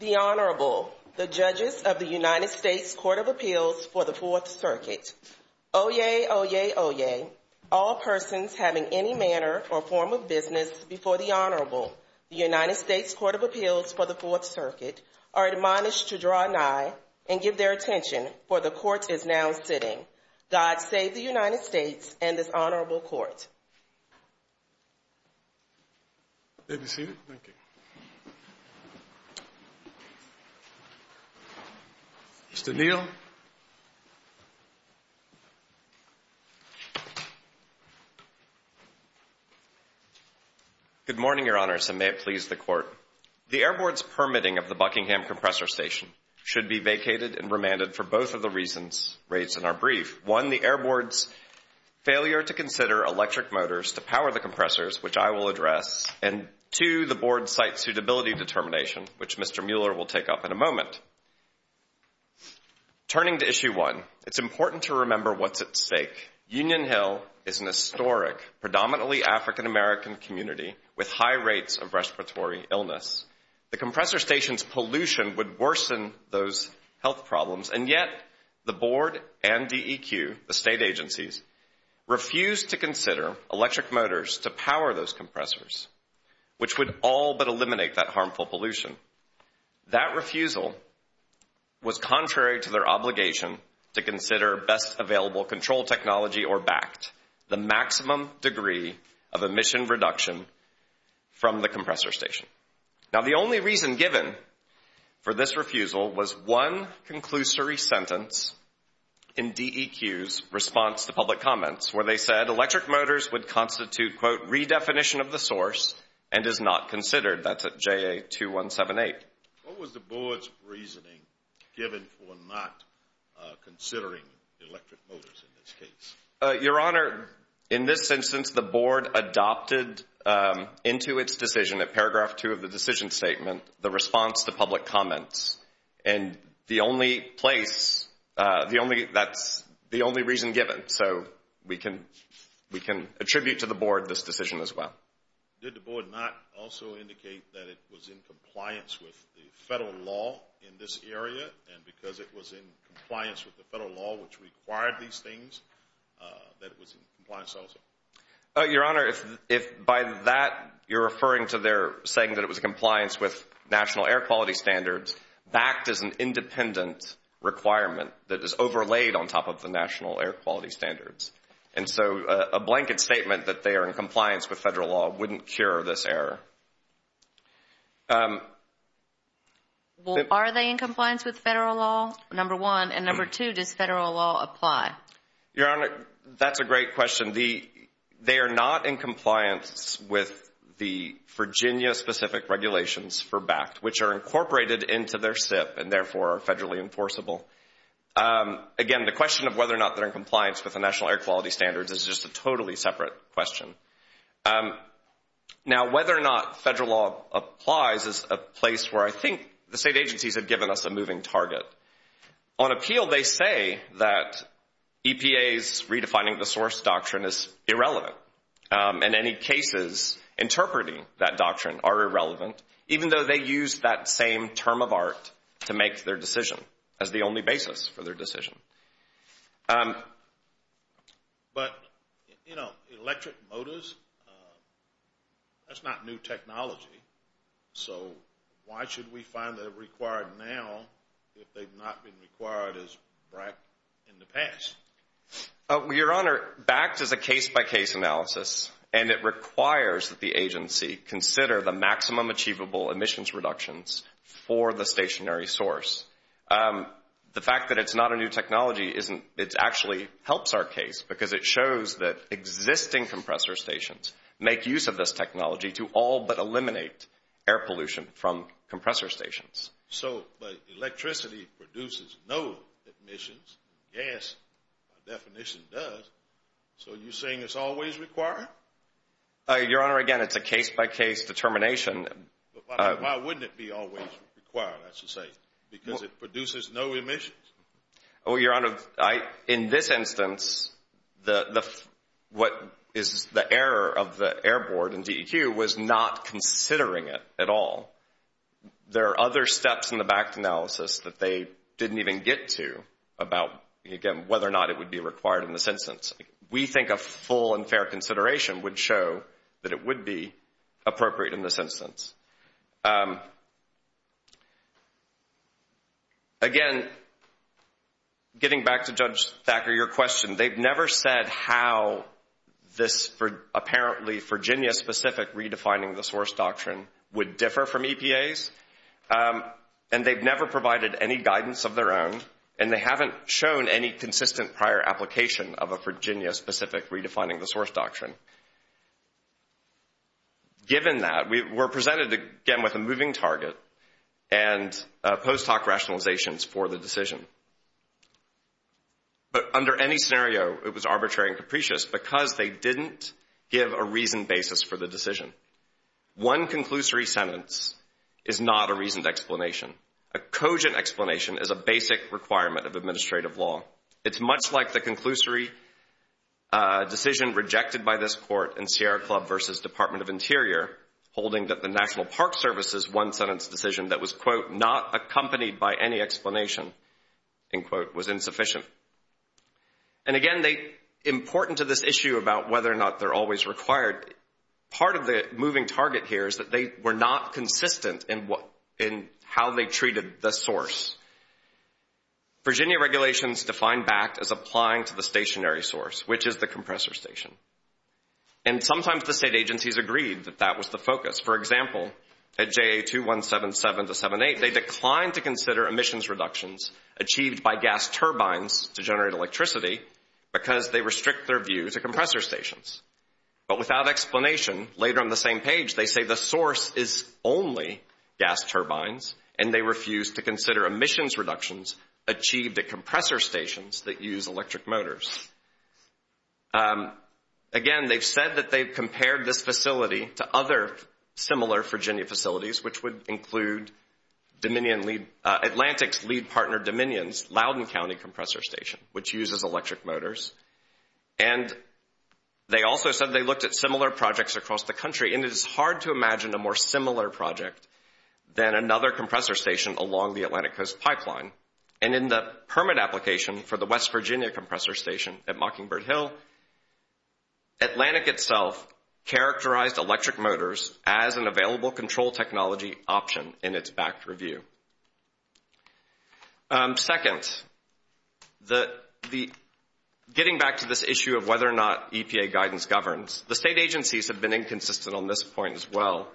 The Honorable, the Judges of the United States Court of Appeals for the Fourth Circuit. Oyez, oyez, oyez, all persons having any manner or form of business before the Honorable, the United States Court of Appeals for the Fourth Circuit, are admonished to draw nigh and give their attention, for the Court is now sitting. God save the United States and this Honorable Court. Mr. Neal. Good morning, Your Honors, and may it please the Court. The Air Board's permitting of the Buckingham Compressor Station should be vacated and remanded for both of the reasons raised in our brief. One, the Air Board's failure to consider electric motors to power the compressors, which I will address, and two, the Board's site suitability determination, which Mr. Mueller will take up in a moment. Turning to Issue 1, it's important to remember what's at stake. Union Hill is an historic, predominantly African-American community with high rates of respiratory illness. The compressor station's pollution would worsen those health problems, and yet the Board and DEQ, the state agencies, refused to consider electric motors to power those compressors, which would all but eliminate that harmful pollution. That refusal was contrary to their obligation to consider best available control technology or BACT, the maximum degree of emission reduction from the compressor station. Now, the only reason given for this refusal was one conclusory sentence in DEQ's response to public comments, where they said electric motors would constitute, quote, redefinition of the source and is not considered. That's at JA-2178. What was the Board's reasoning given for not considering electric motors in this case? Your Honor, in this instance, the Board adopted into its decision at paragraph 2 of the decision statement the response to public comments. And the only place, that's the only reason given. So we can attribute to the Board this decision as well. Did the Board not also indicate that it was in compliance with the federal law in this area, and because it was in compliance with the federal law which required these things, that it was in compliance also? Your Honor, if by that you're referring to their saying that it was in compliance with national air quality standards, BACT is an independent requirement that is overlaid on top of the national air quality standards. And so a blanket statement that they are in compliance with federal law wouldn't cure this error. Well, are they in compliance with federal law, number one? And number two, does federal law apply? Your Honor, that's a great question. They are not in compliance with the Virginia-specific regulations for BACT, which are incorporated into their SIP and therefore are federally enforceable. Again, the question of whether or not they're in compliance with the national air quality standards is just a totally separate question. Now, whether or not federal law applies is a place where I think the state agencies have given us a moving target. On appeal, they say that EPA's redefining the source doctrine is irrelevant. In any cases, interpreting that doctrine are irrelevant, even though they use that same term of art to make their decision as the only basis for their decision. But, you know, electric motors, that's not new technology. So why should we find that they're required now if they've not been required as BRAC in the past? Your Honor, BACT is a case-by-case analysis, and it requires that the agency consider the maximum achievable emissions reductions for the stationary source. The fact that it's not a new technology actually helps our case because it shows that existing compressor stations make use of this technology to all but eliminate air pollution from compressor stations. So electricity produces no emissions. Gas, by definition, does. So you're saying it's always required? Your Honor, again, it's a case-by-case determination. Why wouldn't it be always required, I should say, because it produces no emissions? Well, Your Honor, in this instance, what is the error of the Air Board and DEQ was not considering it at all. There are other steps in the BACT analysis that they didn't even get to about, again, whether or not it would be required in this instance. We think a full and fair consideration would show that it would be appropriate in this instance. Again, getting back to Judge Thacker, your question, they've never said how this apparently Virginia-specific Redefining the Source Doctrine would differ from EPA's, and they've never provided any guidance of their own, and they haven't shown any consistent prior application of a Virginia-specific Redefining the Source Doctrine. Given that, we're presented, again, with a moving target and post hoc rationalizations for the decision. But under any scenario, it was arbitrary and capricious because they didn't give a reasoned basis for the decision. One conclusory sentence is not a reasoned explanation. A cogent explanation is a basic requirement of administrative law. It's much like the conclusory decision rejected by this court in Sierra Club v. Department of Interior, holding that the National Park Service's one-sentence decision that was, quote, not accompanied by any explanation, end quote, was insufficient. And again, important to this issue about whether or not they're always required, part of the moving target here is that they were not consistent in how they treated the source. Virginia regulations define BACT as applying to the stationary source, which is the compressor station. And sometimes the state agencies agreed that that was the focus. For example, at JA2177-78, they declined to consider emissions reductions achieved by gas turbines to generate electricity because they restrict their view to compressor stations. But without explanation, later on the same page, they say the source is only gas turbines, and they refused to consider emissions reductions achieved at compressor stations that use electric motors. Again, they've said that they've compared this facility to other similar Virginia facilities, which would include Atlantic's lead partner Dominion's Loudoun County compressor station, which uses electric motors. And they also said they looked at similar projects across the country, and it is hard to imagine a more similar project than another compressor station along the Atlantic Coast pipeline. And in the permit application for the West Virginia compressor station at Mockingbird Hill, Atlantic itself characterized electric motors as an available control technology option in its BACT review. Second, getting back to this issue of whether or not EPA guidance governs, the state agencies have been inconsistent on this point as well.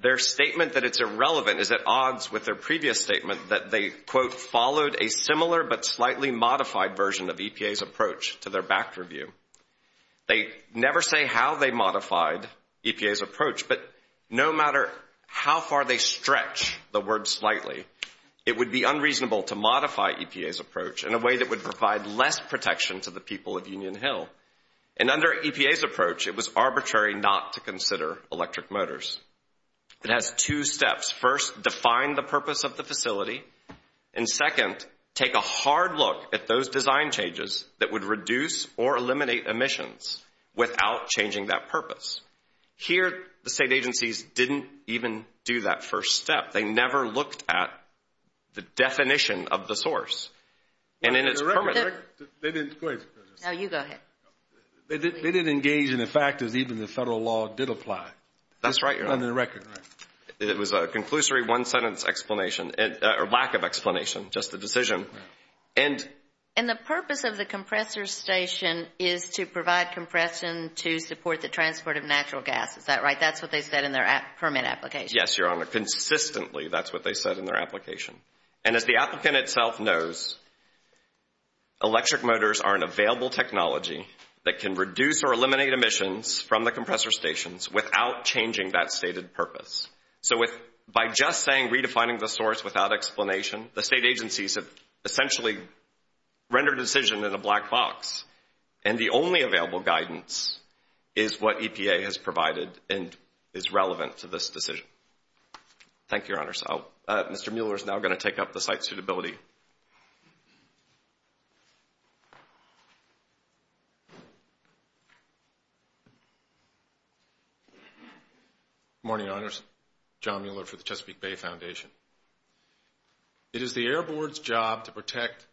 Their statement that it's irrelevant is at odds with their previous statement that they, quote, followed a similar but slightly modified version of EPA's approach to their BACT review. They never say how they modified EPA's approach, but no matter how far they stretch the word slightly, it would be unreasonable to modify EPA's approach in a way that would provide less protection to the people of Union Hill. And under EPA's approach, it was arbitrary not to consider electric motors. It has two steps. First, define the purpose of the facility. And second, take a hard look at those design changes that would reduce or eliminate emissions without changing that purpose. Here, the state agencies didn't even do that first step. They never looked at the definition of the source. No, you go ahead. They didn't engage in the fact that even the federal law did apply. That's right, Your Honor. Under the record. It was a conclusory one-sentence explanation, or lack of explanation, just a decision. And the purpose of the compressor station is to provide compression to support the transport of natural gas. Is that right? That's what they said in their permit application. Yes, Your Honor. Consistently, that's what they said in their application. And as the applicant itself knows, electric motors are an available technology that can reduce or eliminate emissions from the compressor stations without changing that stated purpose. So, by just saying redefining the source without explanation, the state agencies have essentially rendered a decision in a black box. And the only available guidance is what EPA has provided and is relevant to this decision. Thank you, Your Honor. Mr. Mueller is now going to take up the site suitability. Good morning, Your Honors. John Mueller for the Chesapeake Bay Foundation. It is the Air Board's job to protect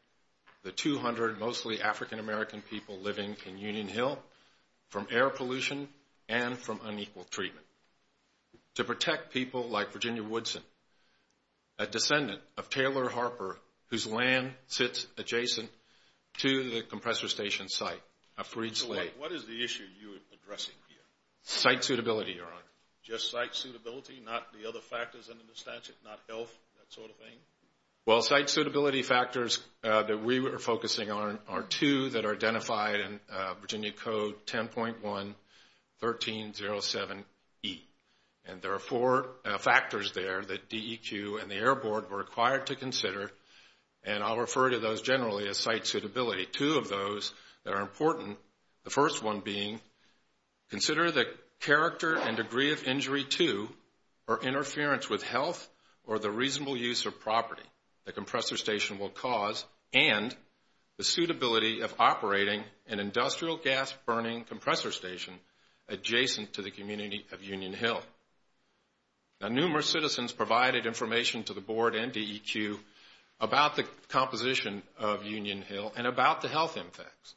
the 200 mostly African-American people living in Union Hill from air pollution and from unequal treatment. To protect people like Virginia Woodson, a descendant of Taylor Harper, whose land sits adjacent to the compressor station site of Freed Slate. What is the issue you are addressing here? Site suitability, Your Honor. Just site suitability, not the other factors under the statute, not health, that sort of thing? Well, site suitability factors that we are focusing on are two that are identified in Virginia Code 10.1-1307E. And there are four factors there that DEQ and the Air Board were required to consider. And I'll refer to those generally as site suitability. Two of those that are important. The first one being, consider the character and degree of injury to or interference with health or the reasonable use of property the compressor station will cause and the suitability of operating an industrial gas burning compressor station adjacent to the community of Union Hill. Now, numerous citizens provided information to the Board and DEQ about the composition of Union Hill and about the health impacts.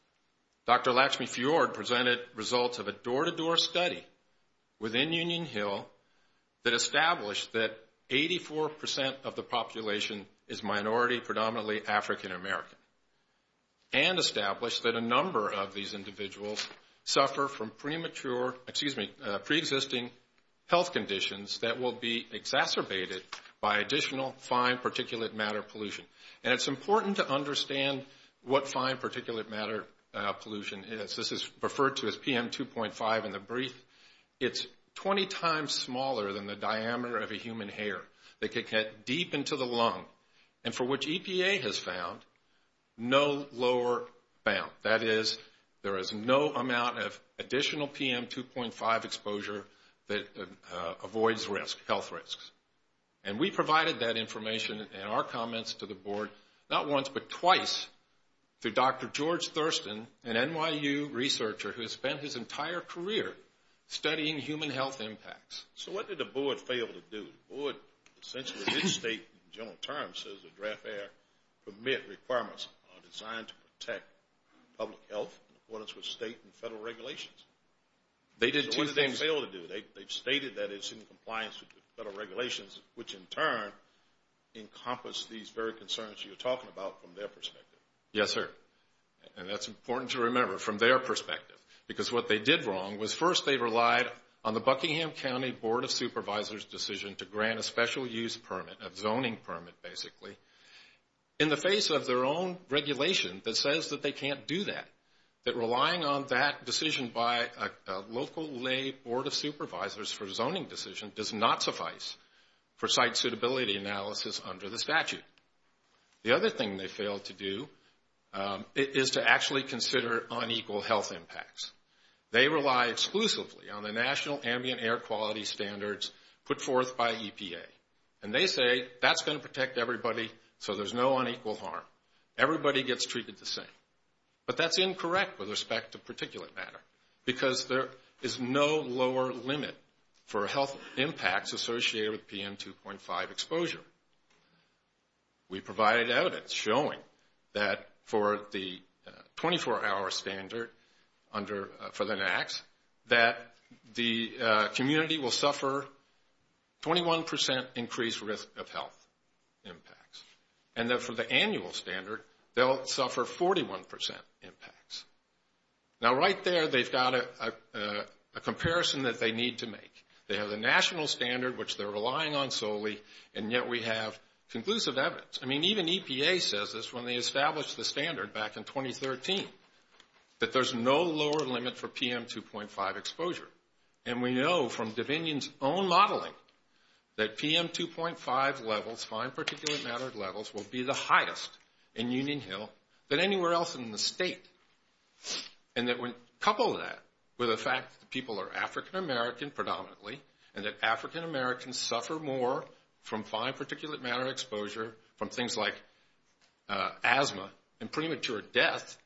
Dr. Latchme-Fjord presented results of a door-to-door study within Union Hill that established that 84 percent of the population is minority, predominantly African American, and established that a number of these individuals suffer from premature, excuse me, pre-existing health conditions that will be exacerbated by additional fine particulate matter pollution. And it's important to understand what fine particulate matter pollution is. This is referred to as PM2.5 in the brief. It's 20 times smaller than the diameter of a human hair that could get deep into the lung and for which EPA has found no lower bound. That is, there is no amount of additional PM2.5 exposure that avoids health risks. And we provided that information and our comments to the Board not once but twice through Dr. George Thurston, an NYU researcher who has spent his entire career studying human health impacts. So what did the Board fail to do? The Board essentially did state in general terms, says the draft air permit requirements are designed to protect public health in accordance with state and federal regulations. They did two things. What did they fail to do? They stated that it's in compliance with the federal regulations, which in turn encompass these very concerns you're talking about from their perspective. Yes, sir. And that's important to remember from their perspective because what they did wrong was first they relied on the Buckingham County Board of Supervisors decision to grant a special use permit, a zoning permit basically, in the face of their own regulation that says that they can't do that. That relying on that decision by a local lay Board of Supervisors for zoning decision does not suffice for site suitability analysis under the statute. The other thing they failed to do is to actually consider unequal health impacts. They rely exclusively on the national ambient air quality standards put forth by EPA. And they say that's going to protect everybody so there's no unequal harm. Everybody gets treated the same. But that's incorrect with respect to particulate matter because there is no lower limit for health impacts associated with PM 2.5 exposure. We provided evidence showing that for the 24-hour standard for the NACs that the community will suffer 21% increased risk of health impacts. And that for the annual standard they'll suffer 41% impacts. Now right there they've got a comparison that they need to make. They have the national standard, which they're relying on solely, and yet we have conclusive evidence. I mean, even EPA says this when they established the standard back in 2013, that there's no lower limit for PM 2.5 exposure. And we know from Divinion's own modeling that PM 2.5 levels, fine particulate matter levels, will be the highest in Union Hill than anywhere else in the state. And that when coupled with that, with the fact that people are African American predominantly, and that African Americans suffer more from fine particulate matter exposure from things like asthma and premature death,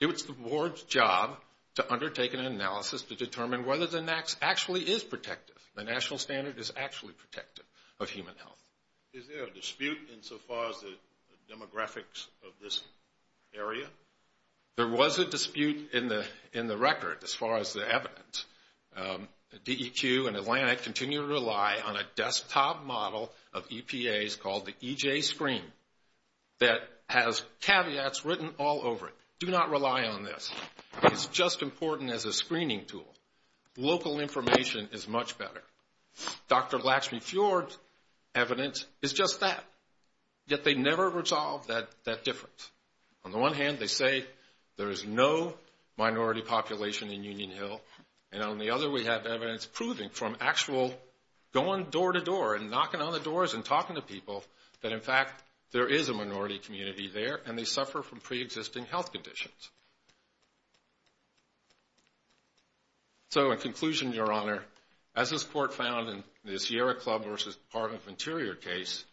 it's the board's job to undertake an analysis to determine whether the NACs actually is protective. The national standard is actually protective of human health. Is there a dispute insofar as the demographics of this area? There was a dispute in the record as far as the evidence. DEQ and Atlantic continue to rely on a desktop model of EPAs called the EJ screen that has caveats written all over it. Do not rely on this. It's just important as a screening tool. Local information is much better. Dr. Laxmey-Fjord's evidence is just that, yet they never resolve that difference. On the one hand, they say there is no minority population in Union Hill, and on the other we have evidence proving from actual going door to door and knocking on the doors and talking to people that in fact there is a minority community there and they suffer from preexisting health conditions. So in conclusion, Your Honor, as this Court found in the Sierra Club v. Department of Interior case,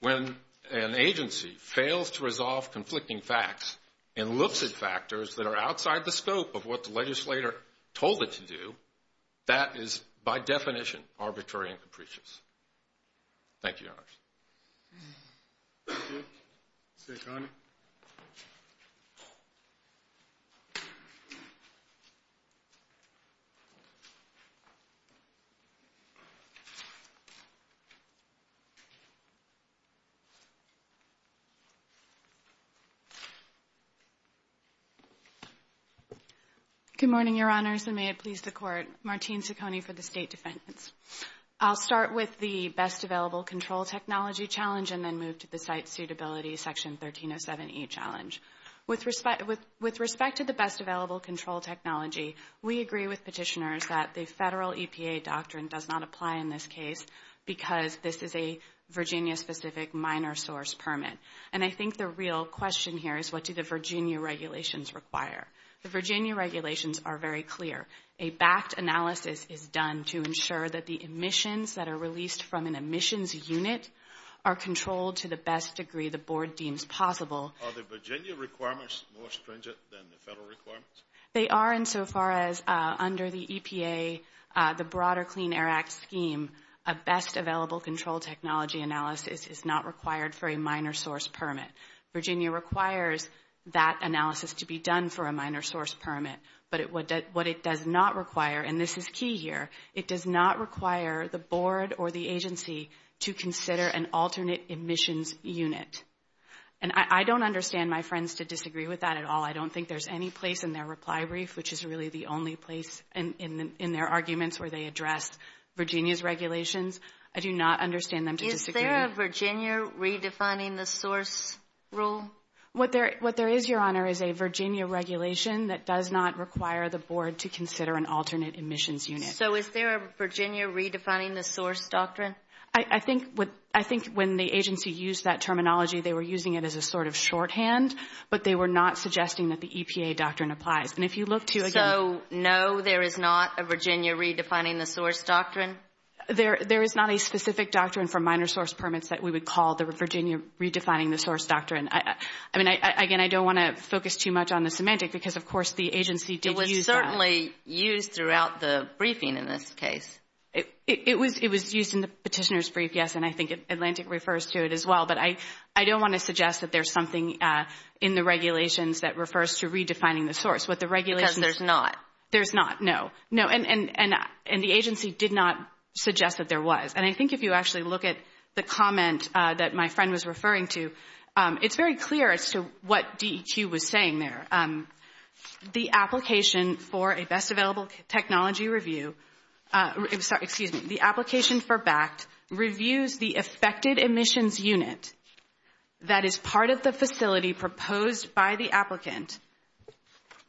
when an agency fails to resolve conflicting facts and looks at factors that are outside the scope of what the legislator told it to do, that is by definition arbitrary and capricious. Thank you, Your Honors. Thank you. Sakony. Good morning, Your Honors, and may it please the Court. Martine Sakony for the State Defense. I'll start with the Best Available Control Technology Challenge and then move to the Site Suitability Section 1307E Challenge. With respect to the Best Available Control Technology, we agree with petitioners that the federal EPA doctrine does not apply in this case because this is a Virginia-specific minor source permit. And I think the real question here is what do the Virginia regulations require? The Virginia regulations are very clear. A backed analysis is done to ensure that the emissions that are released from an emissions unit are controlled to the best degree the Board deems possible. Are the Virginia requirements more stringent than the federal requirements? They are insofar as under the EPA, the broader Clean Air Act scheme, a Best Available Control Technology analysis is not required for a minor source permit. Virginia requires that analysis to be done for a minor source permit. But what it does not require, and this is key here, it does not require the Board or the agency to consider an alternate emissions unit. And I don't understand my friends to disagree with that at all. I don't think there's any place in their reply brief, which is really the only place in their arguments where they address Virginia's regulations. I do not understand them to disagree. Is there a Virginia redefining the source rule? What there is, Your Honor, is a Virginia regulation that does not require the Board to consider an alternate emissions unit. So is there a Virginia redefining the source doctrine? I think when the agency used that terminology, they were using it as a sort of shorthand, but they were not suggesting that the EPA doctrine applies. And if you look to again— So no, there is not a Virginia redefining the source doctrine? There is not a specific doctrine for minor source permits that we would call the Virginia redefining the source doctrine. Again, I don't want to focus too much on the semantic, because of course the agency did use that. It was certainly used throughout the briefing in this case. It was used in the petitioner's brief, yes, and I think Atlantic refers to it as well. But I don't want to suggest that there's something in the regulations that refers to redefining the source. Because there's not? There's not, no. And the agency did not suggest that there was. And I think if you actually look at the comment that my friend was referring to, it's very clear as to what DEQ was saying there. The application for a best available technology review— excuse me, the application for BACT reviews the affected emissions unit that is part of the facility proposed by the applicant.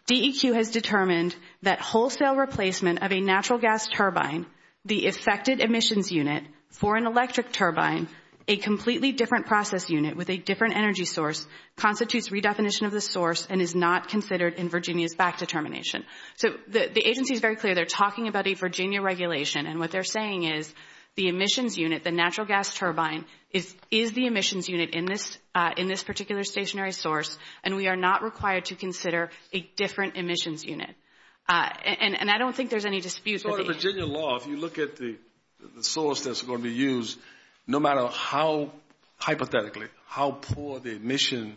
DEQ has determined that wholesale replacement of a natural gas turbine, the affected emissions unit for an electric turbine, a completely different process unit with a different energy source, constitutes redefinition of the source and is not considered in Virginia's BACT determination. So the agency is very clear they're talking about a Virginia regulation, and what they're saying is the emissions unit, the natural gas turbine, is the emissions unit in this particular stationary source, and we are not required to consider a different emissions unit. And I don't think there's any dispute. If you look at the Virginia law, if you look at the source that's going to be used, no matter how, hypothetically, how poor the emission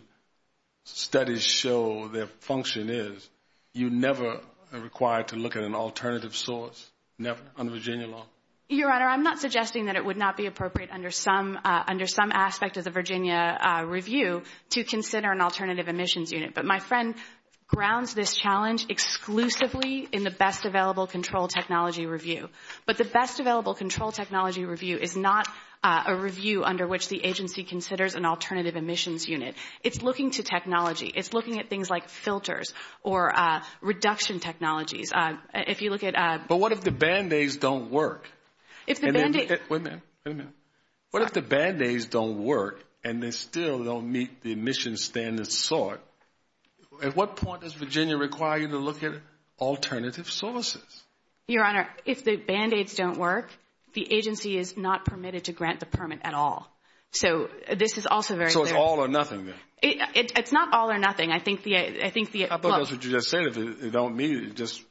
studies show their function is, you never are required to look at an alternative source, never, under Virginia law. Your Honor, I'm not suggesting that it would not be appropriate under some aspect of the Virginia review to consider an alternative emissions unit, but my friend grounds this challenge exclusively in the Best Available Control Technology Review. But the Best Available Control Technology Review is not a review under which the agency considers an alternative emissions unit. It's looking to technology. It's looking at things like filters or reduction technologies. If you look at— But what if the Band-Aids don't work? If the Band-Aids— Wait a minute. Wait a minute. What if the Band-Aids don't work, and they still don't meet the emission standards sought, at what point does Virginia require you to look at alternative sources? Your Honor, if the Band-Aids don't work, the agency is not permitted to grant the permit at all. So this is also very— So it's all or nothing then? It's not all or nothing. I think the— How about what you just said? If they don't meet it, just,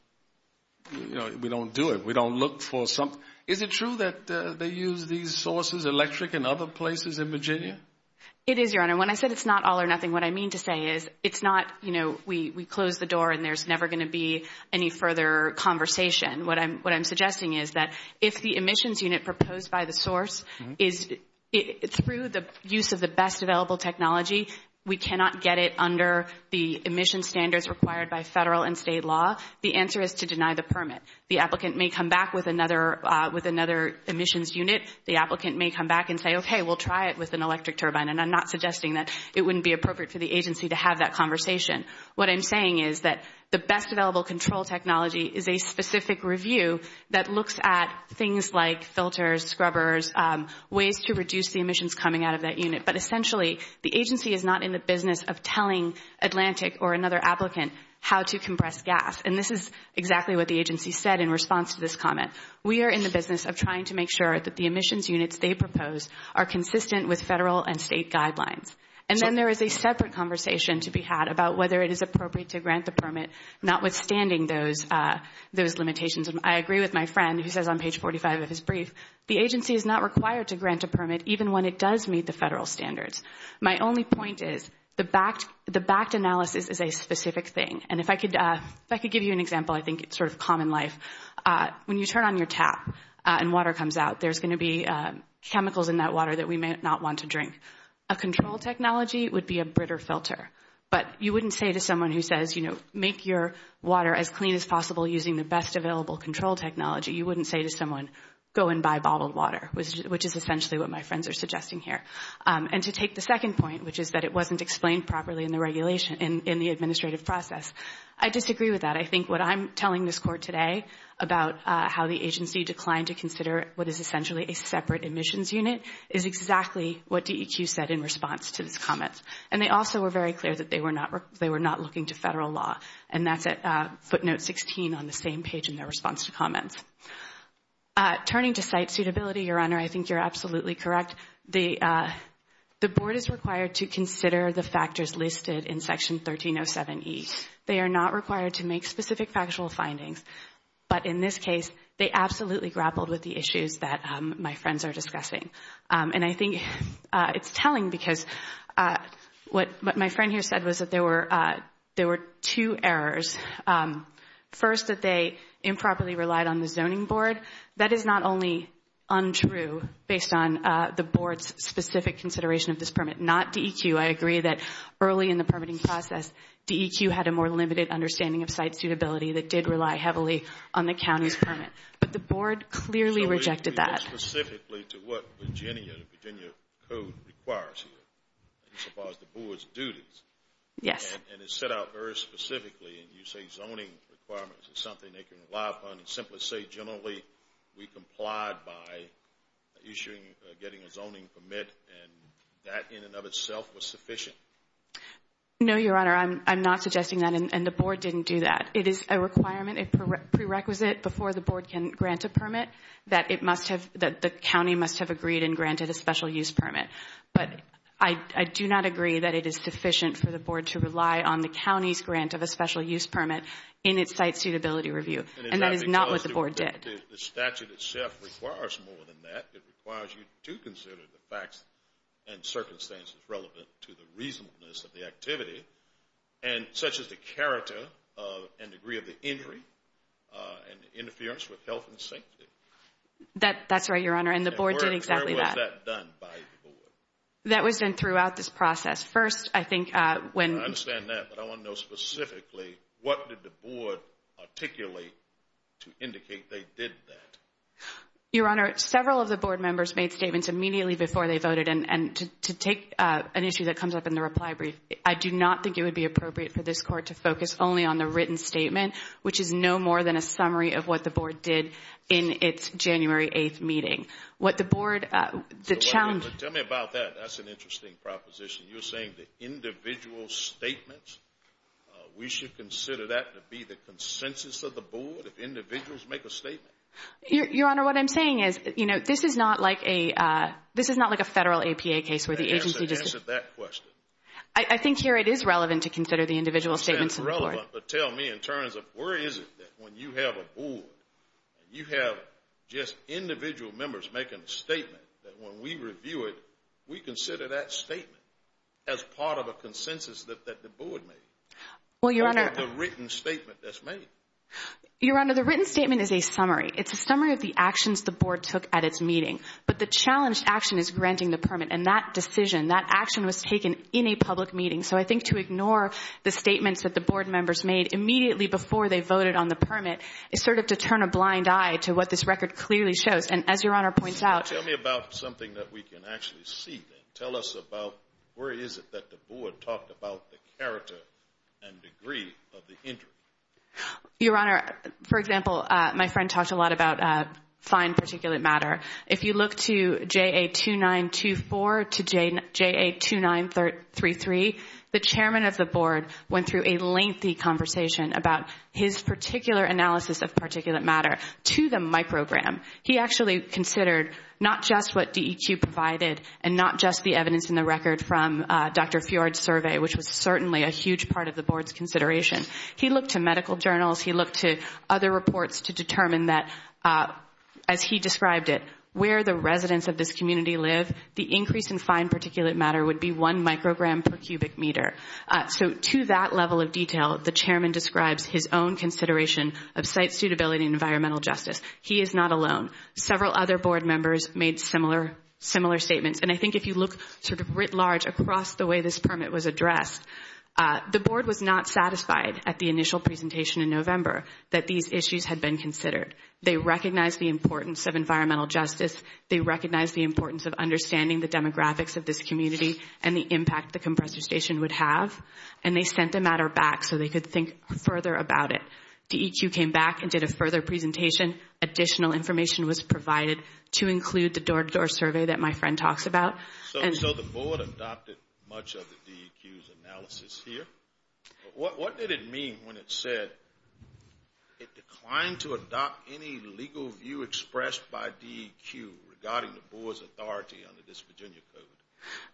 you know, we don't do it. We don't look for something. Is it true that they use these sources, electric and other places, in Virginia? It is, Your Honor. When I said it's not all or nothing, what I mean to say is it's not, you know, we close the door and there's never going to be any further conversation. What I'm suggesting is that if the emissions unit proposed by the source is— through the use of the best available technology, we cannot get it under the emission standards required by federal and state law, the answer is to deny the permit. The applicant may come back with another emissions unit. The applicant may come back and say, okay, we'll try it with an electric turbine. And I'm not suggesting that it wouldn't be appropriate for the agency to have that conversation. What I'm saying is that the best available control technology is a specific review that looks at things like filters, scrubbers, ways to reduce the emissions coming out of that unit. But essentially, the agency is not in the business of telling Atlantic or another applicant how to compress gas. And this is exactly what the agency said in response to this comment. We are in the business of trying to make sure that the emissions units they propose are consistent with federal and state guidelines. And then there is a separate conversation to be had about whether it is appropriate to grant the permit, notwithstanding those limitations. And I agree with my friend who says on page 45 of his brief, the agency is not required to grant a permit even when it does meet the federal standards. My only point is the backed analysis is a specific thing. And if I could give you an example, I think it's sort of common life. When you turn on your tap and water comes out, there's going to be chemicals in that water that we may not want to drink. A control technology would be a britter filter. But you wouldn't say to someone who says, you know, make your water as clean as possible using the best available control technology. You wouldn't say to someone, go and buy bottled water, which is essentially what my friends are suggesting here. And to take the second point, which is that it wasn't explained properly in the regulation, in the administrative process. I disagree with that. I think what I'm telling this court today about how the agency declined to consider what is essentially a separate admissions unit is exactly what DEQ said in response to this comment. And they also were very clear that they were not looking to federal law. And that's at footnote 16 on the same page in their response to comments. Turning to site suitability, Your Honor, I think you're absolutely correct. The board is required to consider the factors listed in Section 1307E. They are not required to make specific factual findings. But in this case, they absolutely grappled with the issues that my friends are discussing. And I think it's telling because what my friend here said was that there were two errors. First, that they improperly relied on the zoning board. Second, that is not only untrue based on the board's specific consideration of this permit. Not DEQ. I agree that early in the permitting process, DEQ had a more limited understanding of site suitability that did rely heavily on the county's permit. But the board clearly rejected that. Specifically to what Virginia, the Virginia code requires here as far as the board's duties. Yes. And it's set out very specifically. And you say zoning requirements is something they can rely upon. And simply say generally we complied by issuing, getting a zoning permit. And that in and of itself was sufficient. No, Your Honor. I'm not suggesting that. And the board didn't do that. It is a requirement, a prerequisite before the board can grant a permit that it must have, that the county must have agreed and granted a special use permit. But I do not agree that it is sufficient for the board to rely on the county's grant of a special use permit in its site suitability review. And that is not what the board did. The statute itself requires more than that. It requires you to consider the facts and circumstances relevant to the reasonableness of the activity, such as the character and degree of the injury and interference with health and safety. That's right, Your Honor. And the board did exactly that. How was that done by the board? That was done throughout this process. First, I think when. I understand that. But I want to know specifically what did the board articulate to indicate they did that? Your Honor, several of the board members made statements immediately before they voted. And to take an issue that comes up in the reply brief, I do not think it would be appropriate for this court to focus only on the written statement, But tell me about that. That's an interesting proposition. You're saying the individual statements, we should consider that to be the consensus of the board if individuals make a statement? Your Honor, what I'm saying is this is not like a federal APA case where the agency just Answer that question. I think here it is relevant to consider the individual statements of the board. But tell me in terms of where is it that when you have a board, you have just individual members making a statement that when we review it, we consider that statement as part of a consensus that the board made? Well, Your Honor. Or the written statement that's made? Your Honor, the written statement is a summary. It's a summary of the actions the board took at its meeting. But the challenged action is granting the permit. And that decision, that action was taken in a public meeting. So I think to ignore the statements that the board members made immediately before they voted on the permit is sort of to turn a blind eye to what this record clearly shows. And as Your Honor points out, Tell me about something that we can actually see then. Tell us about where is it that the board talked about the character and degree of the injury? Your Honor, for example, my friend talked a lot about fine particulate matter. If you look to JA-2924 to JA-2933, the chairman of the board went through a lengthy conversation about his particular analysis of particulate matter to the microgram. He actually considered not just what DEQ provided and not just the evidence in the record from Dr. Fjord's survey, which was certainly a huge part of the board's consideration. He looked to medical journals. He looked to other reports to determine that, as he described it, where the residents of this community live, the increase in fine particulate matter would be one microgram per cubic meter. So to that level of detail, the chairman describes his own consideration of site suitability and environmental justice. He is not alone. Several other board members made similar statements. And I think if you look sort of writ large across the way this permit was addressed, the board was not satisfied at the initial presentation in November that these issues had been considered. They recognized the importance of environmental justice. They recognized the importance of understanding the demographics of this community and the impact the compressor station would have. And they sent the matter back so they could think further about it. DEQ came back and did a further presentation. Additional information was provided to include the door-to-door survey that my friend talks about. So the board adopted much of the DEQ's analysis here. What did it mean when it said it declined to adopt any legal view expressed by DEQ regarding the board's authority under this Virginia code?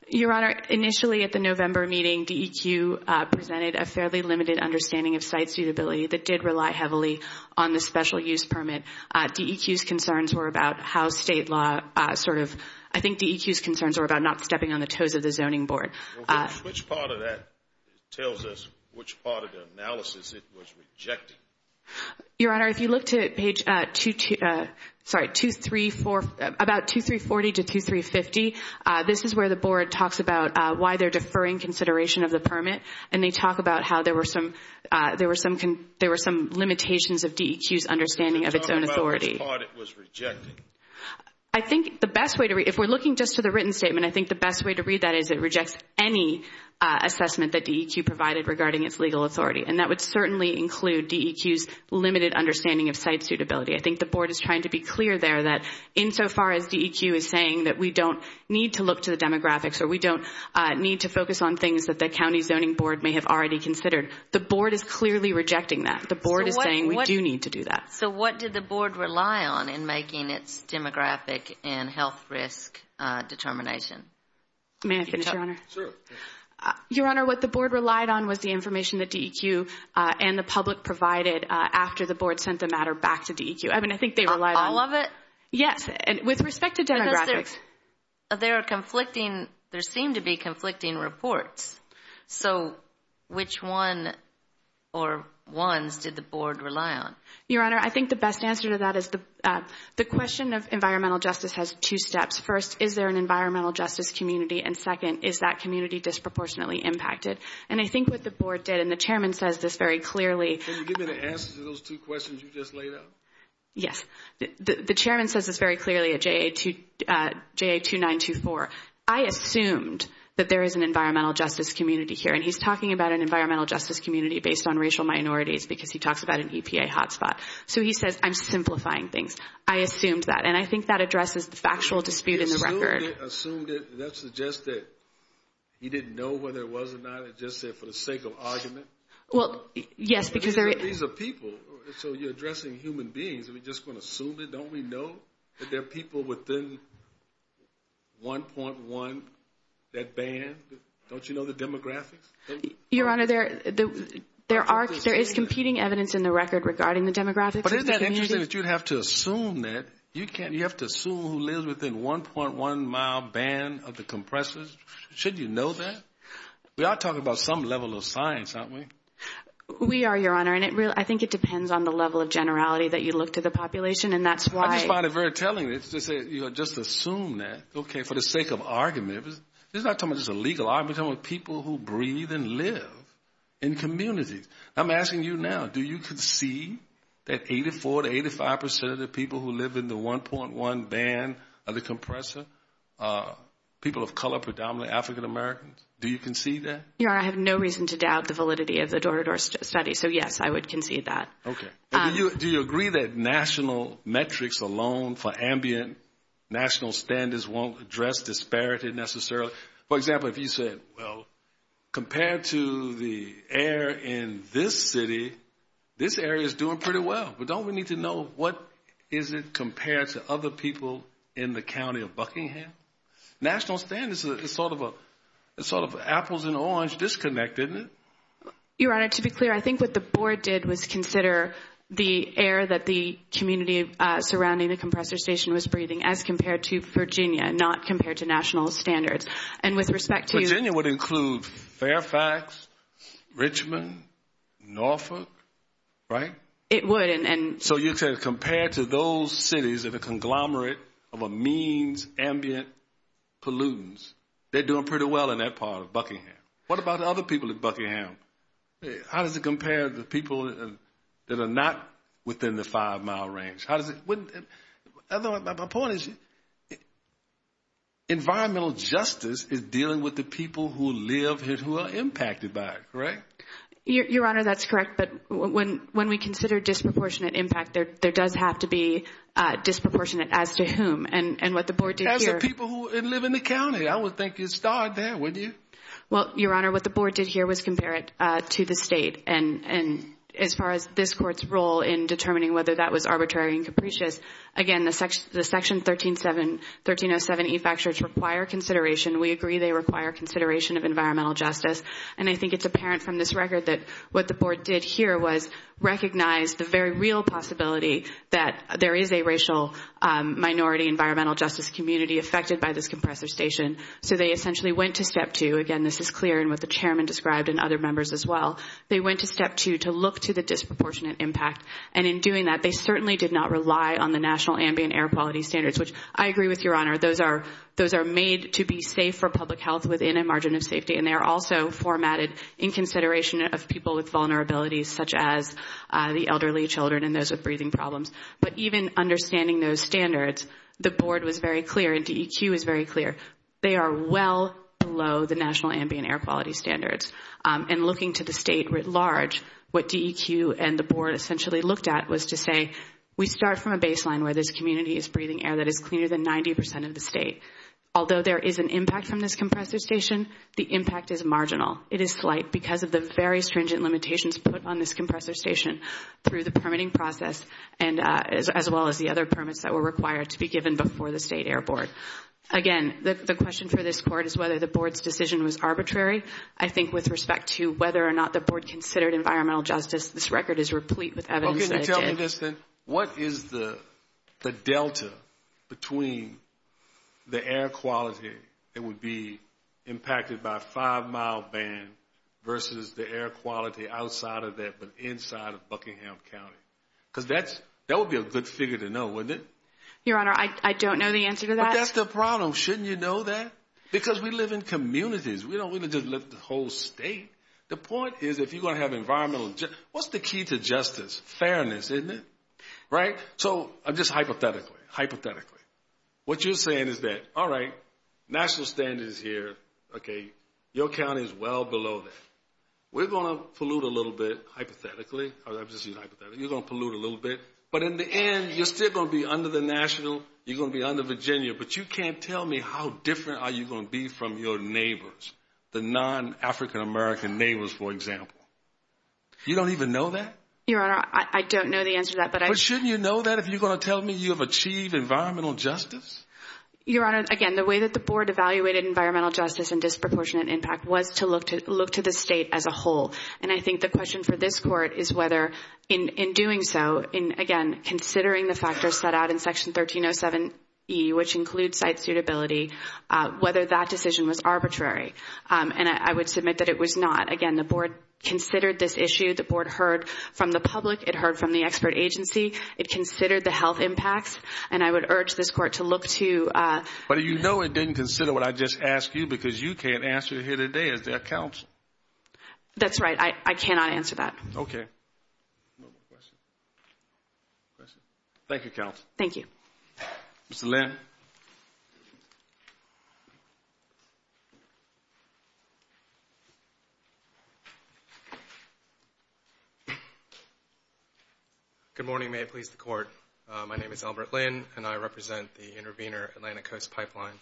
Your Honor, initially at the November meeting, DEQ presented a fairly limited understanding of site suitability that did rely heavily on the special use permit. DEQ's concerns were about how state law sort of – I think DEQ's concerns were about not stepping on the toes of the zoning board. Which part of that tells us which part of the analysis it was rejecting? Your Honor, if you look to page – sorry, about 2340 to 2350, this is where the board talks about why they're deferring consideration of the permit. And they talk about how there were some limitations of DEQ's understanding of its own authority. I'm talking about which part it was rejecting. I think the best way to – if we're looking just to the written statement, I think the best way to read that is it rejects any assessment that DEQ provided regarding its legal authority. And that would certainly include DEQ's limited understanding of site suitability. I think the board is trying to be clear there that insofar as DEQ is saying that we don't need to look to the demographics or we don't need to focus on things that the county zoning board may have already considered, the board is clearly rejecting that. The board is saying we do need to do that. So what did the board rely on in making its demographic and health risk determination? May I finish, Your Honor? Sure. Your Honor, what the board relied on was the information that DEQ and the public provided after the board sent the matter back to DEQ. I mean, I think they relied on – All of it? Yes, with respect to demographics. There are conflicting – there seem to be conflicting reports. So which one or ones did the board rely on? Your Honor, I think the best answer to that is the question of environmental justice has two steps. First, is there an environmental justice community? And second, is that community disproportionately impacted? And I think what the board did, and the chairman says this very clearly – Can you give me the answers to those two questions you just laid out? Yes. The chairman says this very clearly at JA-2924. I assumed that there is an environmental justice community here, and he's talking about an environmental justice community based on racial minorities because he talks about an EPA hotspot. So he says I'm simplifying things. I assumed that, and I think that addresses the factual dispute in the record. You assumed it, and that suggests that he didn't know whether it was or not. It just said for the sake of argument. Well, yes, because there – These are people, so you're addressing human beings. We're just going to assume it. Don't we know that there are people within 1.1 that ban? Don't you know the demographics? Your Honor, there is competing evidence in the record regarding the demographics. But isn't that interesting that you'd have to assume that? You have to assume who lives within 1.1 mile ban of the compressors. Shouldn't you know that? We are talking about some level of science, aren't we? We are, Your Honor, and I think it depends on the level of generality that you look to the population, and that's why – I just find it very telling that you just assume that, okay, for the sake of argument. This is not talking about just a legal argument. We're talking about people who breathe and live in communities. I'm asking you now, do you concede that 84% to 85% of the people who live in the 1.1 ban of the compressor are people of color, predominantly African-Americans? Do you concede that? Your Honor, I have no reason to doubt the validity of the Dorador study. So, yes, I would concede that. Okay. Do you agree that national metrics alone for ambient national standards won't address disparity necessarily? For example, if you said, well, compared to the air in this city, this area is doing pretty well. But don't we need to know what is it compared to other people in the county of Buckingham? National standards is sort of an apples-and-orange disconnect, isn't it? Your Honor, to be clear, I think what the board did was consider the air that the community surrounding the compressor station was breathing as compared to Virginia, not compared to national standards. And with respect to – Virginia would include Fairfax, Richmond, Norfolk, right? It would. So you're saying compared to those cities of a conglomerate of a means ambient pollutants, they're doing pretty well in that part of Buckingham. What about the other people in Buckingham? How does it compare to the people that are not within the five-mile range? How does it – my point is environmental justice is dealing with the people who live here who are impacted by it, right? Your Honor, that's correct. But when we consider disproportionate impact, there does have to be disproportionate as to whom. And what the board did here – As the people who live in the county. I would think you'd start there, wouldn't you? Well, Your Honor, what the board did here was compare it to the state. And as far as this court's role in determining whether that was arbitrary and capricious, again, the Section 1307E fact sheets require consideration. We agree they require consideration of environmental justice. And I think it's apparent from this record that what the board did here was recognize the very real possibility that there is a racial minority environmental justice community affected by this compressor station. So they essentially went to step two. Again, this is clear in what the chairman described and other members as well. They went to step two to look to the disproportionate impact. And in doing that, they certainly did not rely on the national ambient air quality standards, which I agree with Your Honor, those are made to be safe for public health within a margin of safety. And they are also formatted in consideration of people with vulnerabilities, such as the elderly, children, and those with breathing problems. But even understanding those standards, the board was very clear and DEQ was very clear. They are well below the national ambient air quality standards. And looking to the state writ large, what DEQ and the board essentially looked at was to say, we start from a baseline where this community is breathing air that is cleaner than 90% of the state. Although there is an impact from this compressor station, the impact is marginal. It is slight because of the very stringent limitations put on this compressor station through the permitting process as well as the other permits that were required to be given before the state air board. Again, the question for this court is whether the board's decision was arbitrary. I think with respect to whether or not the board considered environmental justice, this record is replete with evidence that it did. What is the delta between the air quality that would be impacted by a five-mile ban versus the air quality outside of that but inside of Buckingham County? Because that would be a good figure to know, wouldn't it? Your Honor, I don't know the answer to that. But that's the problem. Shouldn't you know that? Because we live in communities. We don't live in the whole state. The point is if you're going to have environmental justice, what's the key to justice? Fairness, isn't it? So just hypothetically, what you're saying is that, all right, national standard is here. Your county is well below that. We're going to pollute a little bit hypothetically. You're going to pollute a little bit. But in the end, you're still going to be under the national. You're going to be under Virginia. But you can't tell me how different are you going to be from your neighbors, the non-African-American neighbors, for example. You don't even know that? Your Honor, I don't know the answer to that. But shouldn't you know that if you're going to tell me you have achieved environmental justice? Your Honor, again, the way that the board evaluated environmental justice and disproportionate impact was to look to the state as a whole. And I think the question for this court is whether in doing so, again, considering the factors set out in Section 1307E, which includes site suitability, whether that decision was arbitrary. And I would submit that it was not. Again, the board considered this issue. The board heard from the public. It heard from the expert agency. It considered the health impacts. And I would urge this court to look to. But you know it didn't consider what I just asked you because you can't answer here today as their counsel. That's right. I cannot answer that. Okay. Thank you, counsel. Thank you. Mr. Lynn. Good morning. May it please the Court. My name is Albert Lynn, and I represent the Intervenor Atlantic Coast Pipeline.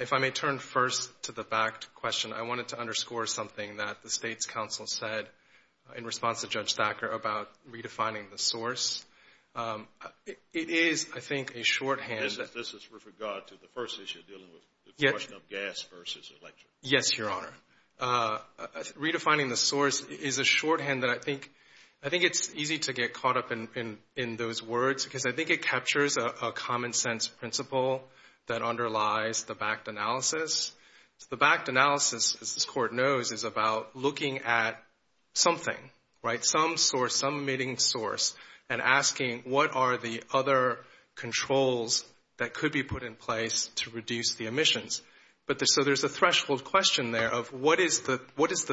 If I may turn first to the fact question, I wanted to underscore something that the State's counsel said in response to Judge Thacker about redefining the source. It is, I think, a shorthand. This is with regard to the first issue dealing with the question of gas versus electric. Yes, Your Honor. Redefining the source is a shorthand that I think it's easy to get caught up in those words because I think it captures a common sense principle that underlies the backed analysis. The backed analysis, as this Court knows, is about looking at something, right, some source, some emitting source, and asking what are the other controls that could be put in place to reduce the emissions. So there's a threshold question there of what is the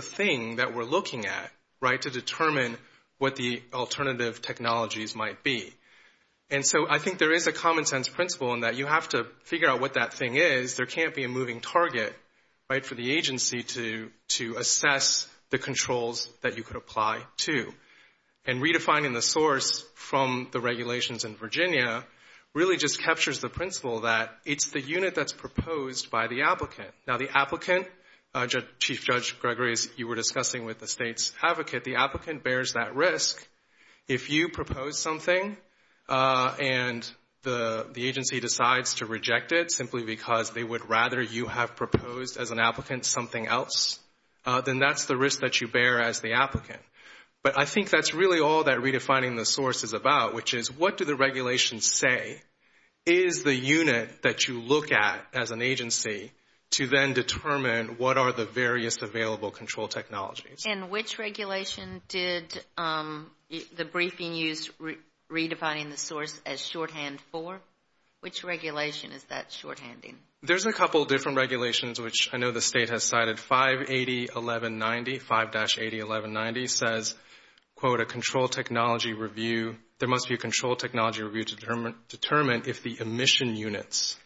thing that we're looking at, right, to determine what the alternative technologies might be. And so I think there is a common sense principle in that you have to figure out what that thing is. There can't be a moving target, right, for the agency to assess the controls that you could apply to. And redefining the source from the regulations in Virginia really just captures the principle that it's the unit that's proposed by the applicant. Now, the applicant, Chief Judge Gregory, as you were discussing with the State's advocate, the applicant bears that risk. If you propose something and the agency decides to reject it simply because they would rather you have proposed as an applicant something else, then that's the risk that you bear as the applicant. But I think that's really all that redefining the source is about, which is what do the regulations say is the unit that you look at as an agency to then determine what are the various available control technologies. And which regulation did the briefing use redefining the source as shorthand for? Which regulation is that shorthanding? There's a couple different regulations, which I know the State has cited. 580.1190, 5-80.1190 says, quote, a control technology review. There must be a control technology review to determine if the emission units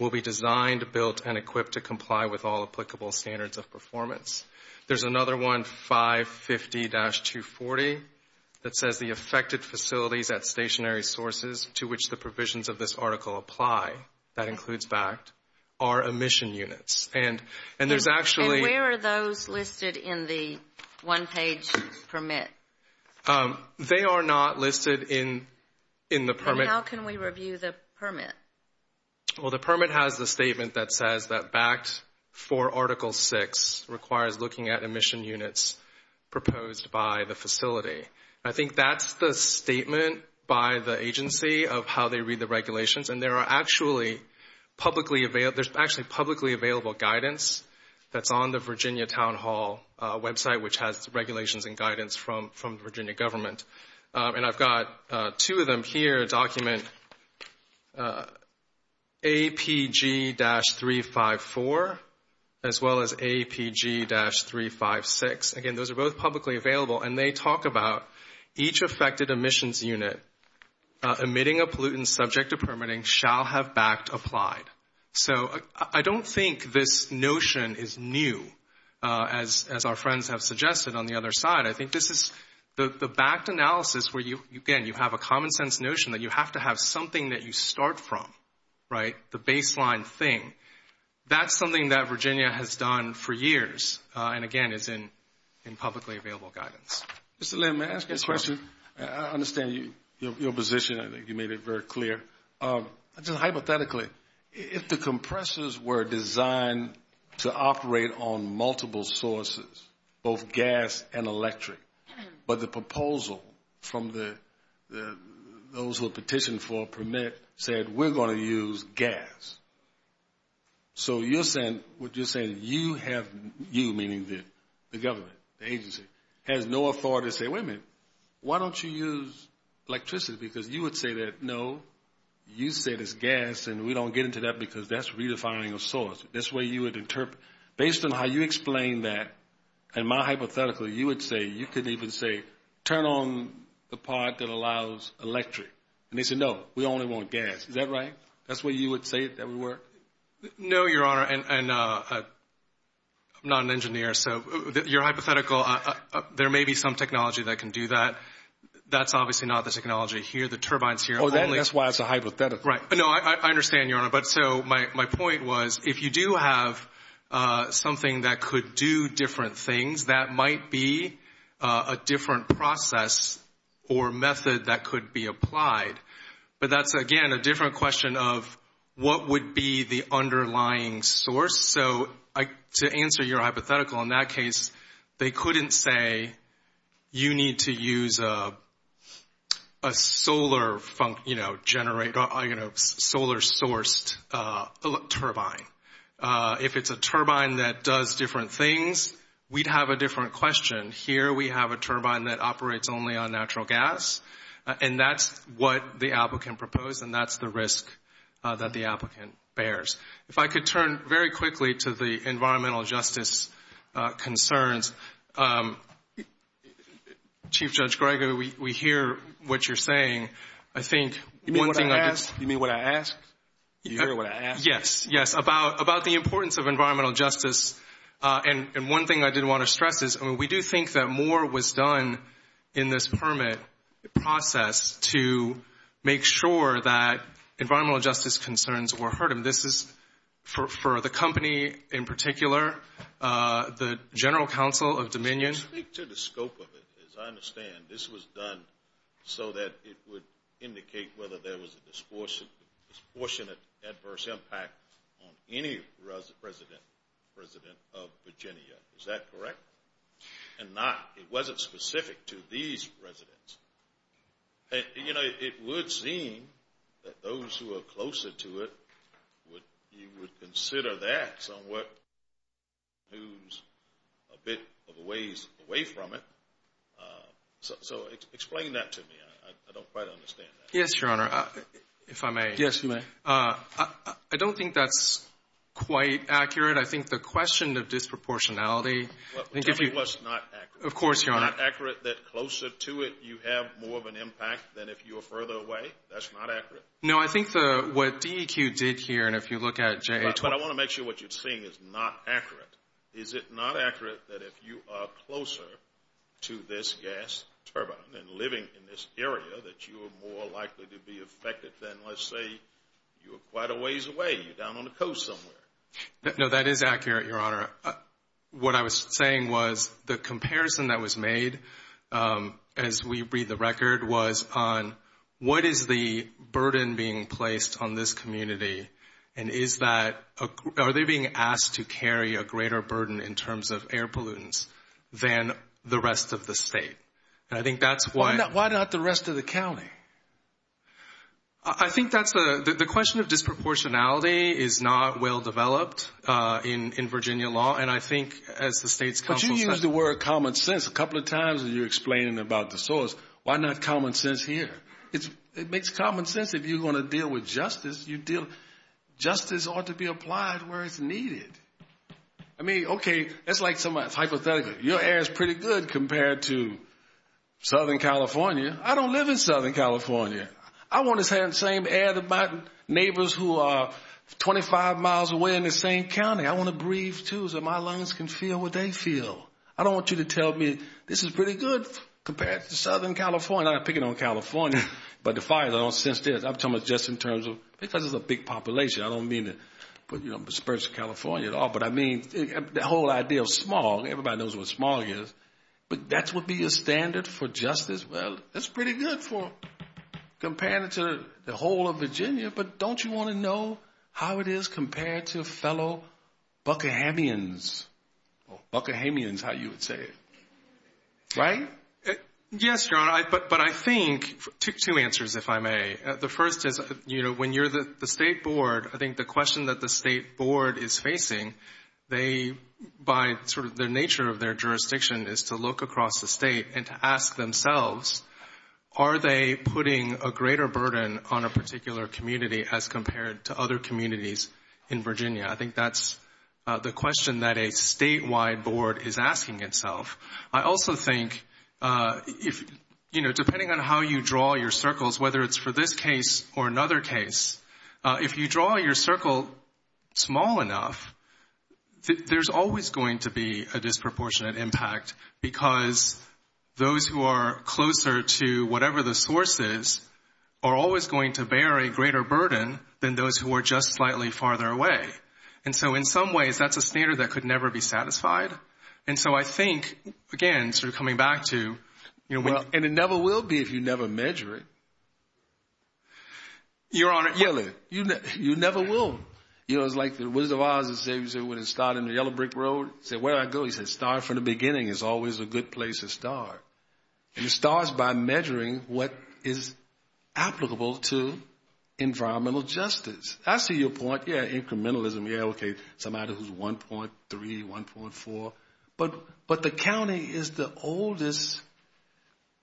will be designed, built, and equipped to comply with all applicable standards of performance. There's another one, 550-240, that says the affected facilities at stationary sources to which the provisions of this article apply, that includes BACT, are emission units. And there's actually – And where are those listed in the one-page permit? They are not listed in the permit. How can we review the permit? Well, the permit has the statement that says that BACT for Article VI requires looking at emission units proposed by the facility. I think that's the statement by the agency of how they read the regulations. And there are actually publicly available – there's actually publicly available guidance that's on the Virginia Town Hall website, which has regulations and guidance from the Virginia government. And I've got two of them here, document APG-354 as well as APG-356. Again, those are both publicly available, and they talk about each affected emissions unit emitting a pollutant subject to permitting shall have BACT applied. So I don't think this notion is new, as our friends have suggested on the other side. I think this is the BACT analysis where, again, you have a common-sense notion that you have to have something that you start from, right, the baseline thing. That's something that Virginia has done for years and, again, is in publicly available guidance. Mr. Lim, may I ask you a question? I understand your position. I think you made it very clear. Just hypothetically, if the compressors were designed to operate on multiple sources, both gas and electric, but the proposal from those who have petitioned for a permit said, we're going to use gas. So you're saying you have, you meaning the government, the agency, has no authority to say, wait a minute, why don't you use electricity, because you would say that, no, you said it's gas, and we don't get into that because that's redefining a source. Based on how you explain that and my hypothetical, you would say, you could even say, turn on the part that allows electric, and they say, no, we only want gas. Is that right? That's what you would say that would work? No, Your Honor, and I'm not an engineer, so your hypothetical, there may be some technology that can do that. That's obviously not the technology here. The turbine's here. Oh, that's why it's a hypothetical. Right. No, I understand, Your Honor. But so my point was, if you do have something that could do different things, that might be a different process or method that could be applied. But that's, again, a different question of what would be the underlying source. So to answer your hypothetical, in that case, they couldn't say, you need to use a solar source turbine. If it's a turbine that does different things, we'd have a different question. Here we have a turbine that operates only on natural gas, and that's what the applicant proposed, and that's the risk that the applicant bears. If I could turn very quickly to the environmental justice concerns. Chief Judge Gregory, we hear what you're saying. You mean what I asked? You mean what I asked? You hear what I asked? Yes, yes, about the importance of environmental justice. And one thing I did want to stress is we do think that more was done in this permit process to make sure that environmental justice concerns were heard. And this is for the company in particular, the General Counsel of Dominion. Speak to the scope of it. As I understand, this was done so that it would indicate whether there was a disproportionate adverse impact on any resident of Virginia. Is that correct? And not, it wasn't specific to these residents. You know, it would seem that those who are closer to it, you would consider that somewhat moves a bit of a ways away from it. So explain that to me. I don't quite understand that. Yes, Your Honor, if I may. Yes, you may. I don't think that's quite accurate. I think the question of disproportionality. Tell me what's not accurate. Of course, Your Honor. Is it not accurate that closer to it, you have more of an impact than if you were further away? That's not accurate? No, I think what DEQ did here, and if you look at JA20. But I want to make sure what you're seeing is not accurate. Is it not accurate that if you are closer to this gas turbine and living in this area, that you are more likely to be affected than, let's say, you were quite a ways away, you're down on the coast somewhere? No, that is accurate, Your Honor. What I was saying was the comparison that was made, as we read the record, was on what is the burden being placed on this community, and are they being asked to carry a greater burden in terms of air pollutants than the rest of the state? Why not the rest of the county? I think that's the question of disproportionality is not well-developed in Virginia law, and I think as the state's counsel says. But you used the word common sense a couple of times when you were explaining about the source. Why not common sense here? It makes common sense if you're going to deal with justice. Justice ought to be applied where it's needed. I mean, okay, that's hypothetical. Your air is pretty good compared to Southern California. I don't live in Southern California. I want the same air that my neighbors who are 25 miles away in the same county. I want to breathe, too, so my lungs can feel what they feel. I don't want you to tell me this is pretty good compared to Southern California. I'm not picking on California, but the fire, I don't sense this. I'm talking just in terms of because it's a big population. I don't mean to disperse California at all, but I mean the whole idea of smog. Everybody knows what smog is. But that would be a standard for justice. Well, that's pretty good compared to the whole of Virginia, but don't you want to know how it is compared to fellow Buckahamians, or Buckahamians, how you would say it, right? Yes, Your Honor, but I think two answers, if I may. The first is when you're the state board, I think the question that the state board is facing, by sort of the nature of their jurisdiction is to look across the state and to ask themselves, are they putting a greater burden on a particular community as compared to other communities in Virginia? I think that's the question that a statewide board is asking itself. I also think, depending on how you draw your circles, whether it's for this case or another case, if you draw your circle small enough, there's always going to be a disproportionate impact because those who are closer to whatever the source is are always going to bear a greater burden than those who are just slightly farther away. And so in some ways, that's a standard that could never be satisfied. And so I think, again, sort of coming back to— And it never will be if you never measure it. Your Honor— You never will. You know, it's like the Wizard of Oz that said, when it started on the yellow brick road, he said, where do I go? He said, start from the beginning is always a good place to start. And it starts by measuring what is applicable to environmental justice. I see your point, yeah, incrementalism, yeah, okay, somebody who's 1.3, 1.4, but the county is the oldest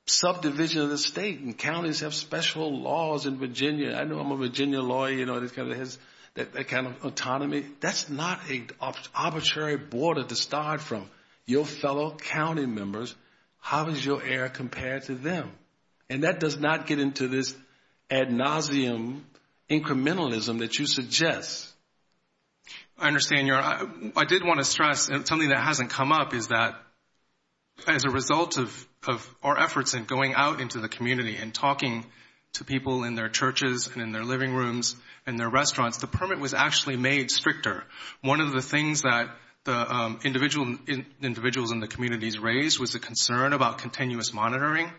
subdivision of the state, and counties have special laws in Virginia. I know I'm a Virginia lawyer, you know, that kind of autonomy. That's not an arbitrary border to start from. Your fellow county members, how does your error compare to them? And that does not get into this ad nauseum incrementalism that you suggest. I understand, Your Honor. I did want to stress something that hasn't come up is that as a result of our efforts in going out into the community and talking to people in their churches and in their living rooms and their restaurants, the permit was actually made stricter. One of the things that the individuals in the communities raised was the concern about continuous monitoring.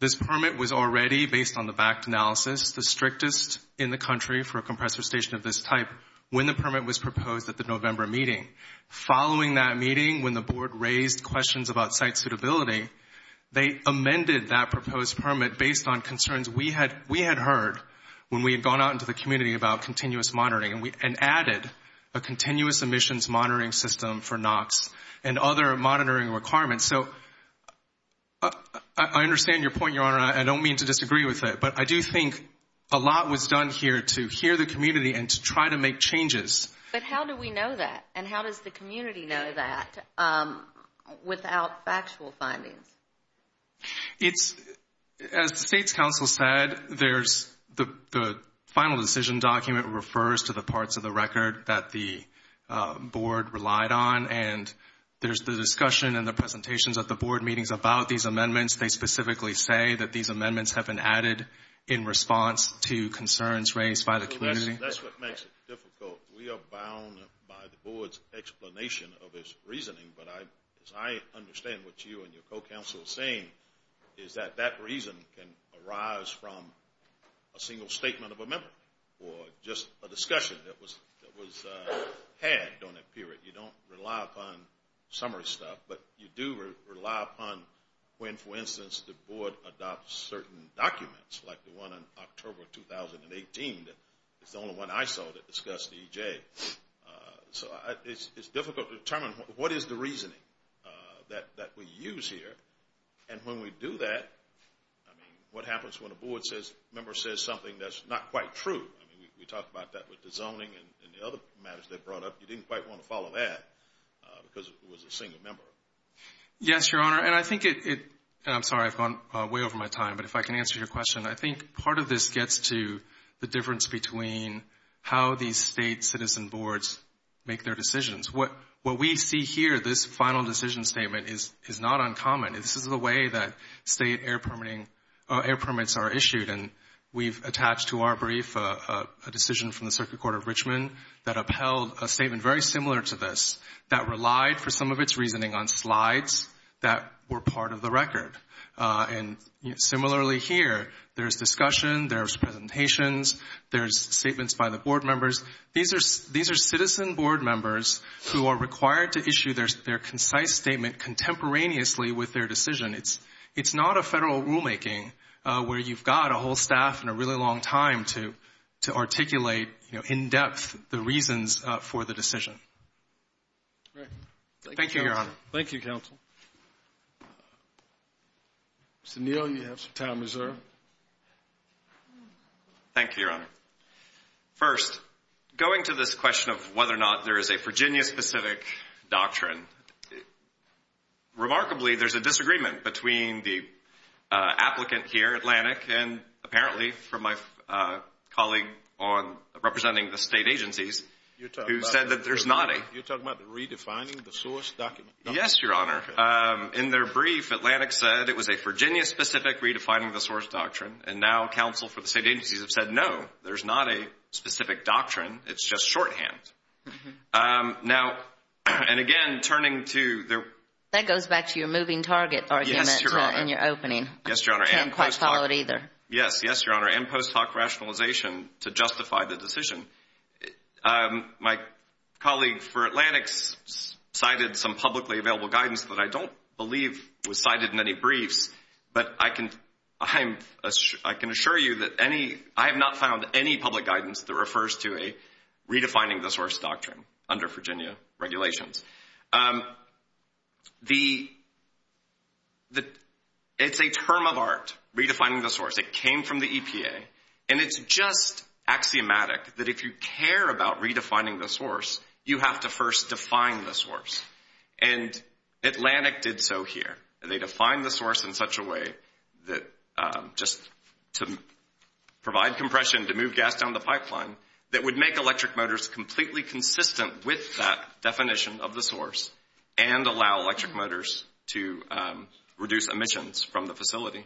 This permit was already, based on the back analysis, the strictest in the country for a compressor station of this type when the permit was proposed at the November meeting. Following that meeting, when the board raised questions about site suitability, they amended that proposed permit based on concerns we had heard when we had gone out into the community about continuous monitoring and added a continuous emissions monitoring system for NOx and other monitoring requirements. So I understand your point, Your Honor, and I don't mean to disagree with it, but I do think a lot was done here to hear the community and to try to make changes. But how do we know that, and how does the community know that without factual findings? As the State's counsel said, the final decision document refers to the parts of the record that the board relied on, and there's the discussion and the presentations at the board meetings about these amendments. They specifically say that these amendments have been added in response to concerns raised by the community. That's what makes it difficult. We are bound by the board's explanation of its reasoning, but as I understand what you and your co-counsel are saying, is that that reason can arise from a single statement of amendment or just a discussion that was had during that period. You don't rely upon summary stuff, but you do rely upon when, for instance, the board adopts certain documents, like the one in October 2018 that is the only one I saw that discussed EJ. So it's difficult to determine what is the reasoning that we use here, and when we do that, I mean, what happens when a board member says something that's not quite true? I mean, we talked about that with the zoning and the other matters they brought up. You didn't quite want to follow that because it was a single member. Yes, Your Honor, and I think it, and I'm sorry, I've gone way over my time, but if I can answer your question, I think part of this gets to the difference between how these state citizen boards make their decisions. What we see here, this final decision statement, is not uncommon. This is the way that state air permits are issued, and we've attached to our brief a decision from the Circuit Court of Richmond that upheld a statement very similar to this, that relied for some of its reasoning on slides that were part of the record. And similarly here, there's discussion, there's presentations, there's statements by the board members. These are citizen board members who are required to issue their concise statement contemporaneously with their decision. It's not a federal rulemaking where you've got a whole staff and a really long time to articulate in depth the reasons for the decision. Thank you, Your Honor. Thank you, counsel. Mr. Neal, you have some time reserved. Thank you, Your Honor. First, going to this question of whether or not there is a Virginia-specific doctrine, remarkably there's a disagreement between the applicant here, Atlantic, and apparently from my colleague representing the state agencies who said that there's not a You're talking about redefining the source document? Yes, Your Honor. In their brief, Atlantic said it was a Virginia-specific redefining the source doctrine, and now counsel for the state agencies have said no, there's not a specific doctrine, it's just shorthand. Now, and again, turning to their That goes back to your moving target argument in your opening. Yes, Your Honor. I can't quite follow it either. Yes, Your Honor, and post hoc rationalization to justify the decision. My colleague for Atlantic cited some publicly available guidance that I don't believe was cited in any briefs, but I can assure you that I have not found any public guidance that refers to a redefining the source doctrine under Virginia regulations. It's a term of art, redefining the source. It came from the EPA, and it's just axiomatic that if you care about redefining the source, you have to first define the source. And Atlantic did so here. They defined the source in such a way that just to provide compression, to move gas down the pipeline, that would make electric motors completely consistent with that definition of the source and allow electric motors to reduce emissions from the facility.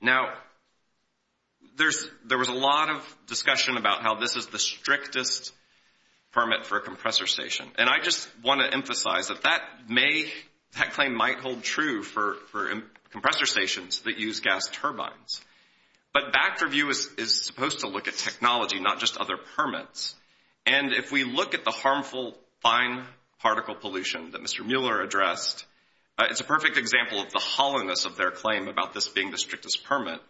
Now, there was a lot of discussion about how this is the strictest permit for a compressor station, and I just want to emphasize that that claim might hold true for compressor stations that use gas turbines. But back-review is supposed to look at technology, not just other permits. And if we look at the harmful fine particle pollution that Mr. Mueller addressed, it's a perfect example of the hollowness of their claim about this being the strictest permit.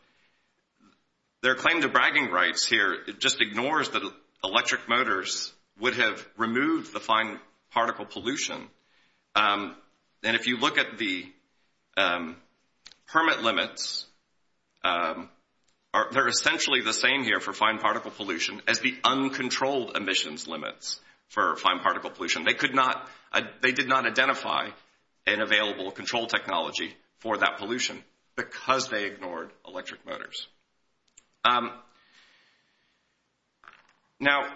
Their claim to bragging rights here just ignores that electric motors would have removed the fine particle pollution. And if you look at the permit limits, they're essentially the same here for fine particle pollution as the uncontrolled emissions limits for fine particle pollution. They did not identify an available control technology for that pollution because they ignored electric motors. Now,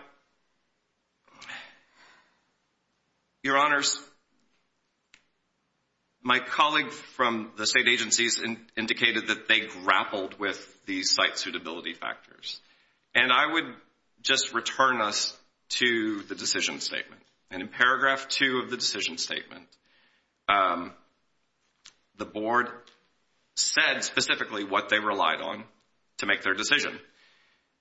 your honors, my colleague from the state agencies indicated that they grappled with these site suitability factors. And I would just return us to the decision statement. And in paragraph two of the decision statement, the board said specifically what they relied on. To make their decision.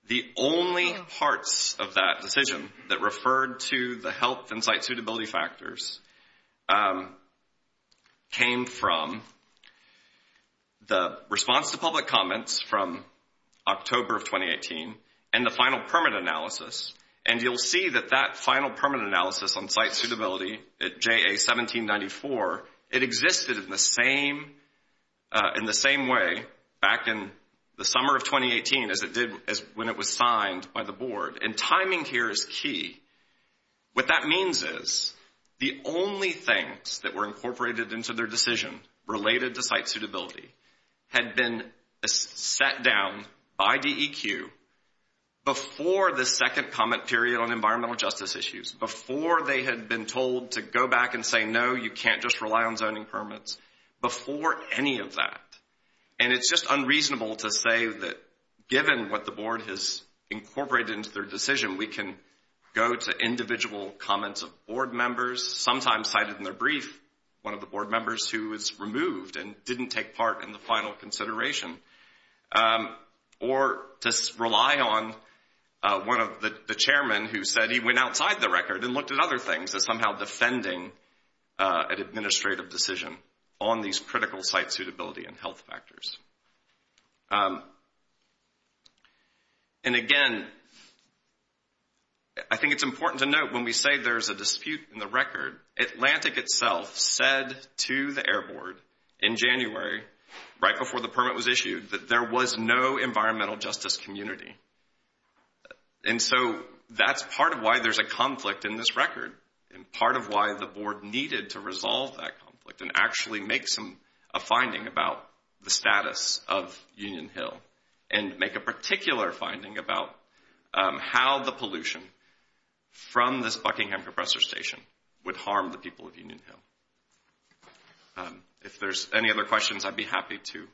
The only parts of that decision that referred to the health and site suitability factors came from the response to public comments from October of 2018 and the final permit analysis. And you'll see that that final permit analysis on site suitability at JA 1794, it existed in the same way back in the summer of 2018 as it did when it was signed by the board. And timing here is key. What that means is the only things that were incorporated into their decision related to site suitability had been set down by DEQ before the second comment period on environmental justice issues, before they had been told to go back and say, no, you can't just rely on zoning permits before any of that. And it's just unreasonable to say that given what the board has incorporated into their decision, we can go to individual comments of board members, sometimes cited in their brief, one of the board members who was removed and didn't take part in the final consideration. Or to rely on one of the chairmen who said he went outside the record and looked at other things as somehow defending an administrative decision on these critical site suitability and health factors. And again, I think it's important to note when we say there's a dispute in the record, Atlantic itself said to the Air Board in January, right before the permit was issued, that there was no environmental justice community. And so that's part of why there's a conflict in this record and part of why the board needed to resolve that conflict and actually make a finding about the status of Union Hill. And make a particular finding about how the pollution from this Buckingham Compressor Station would harm the people of Union Hill. If there's any other questions, I'd be happy to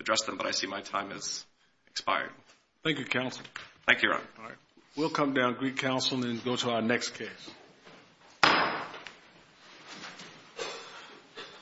address them, but I see my time has expired. Thank you, counsel. Thank you, Your Honor. All right. We'll come down to the council and go to our next case.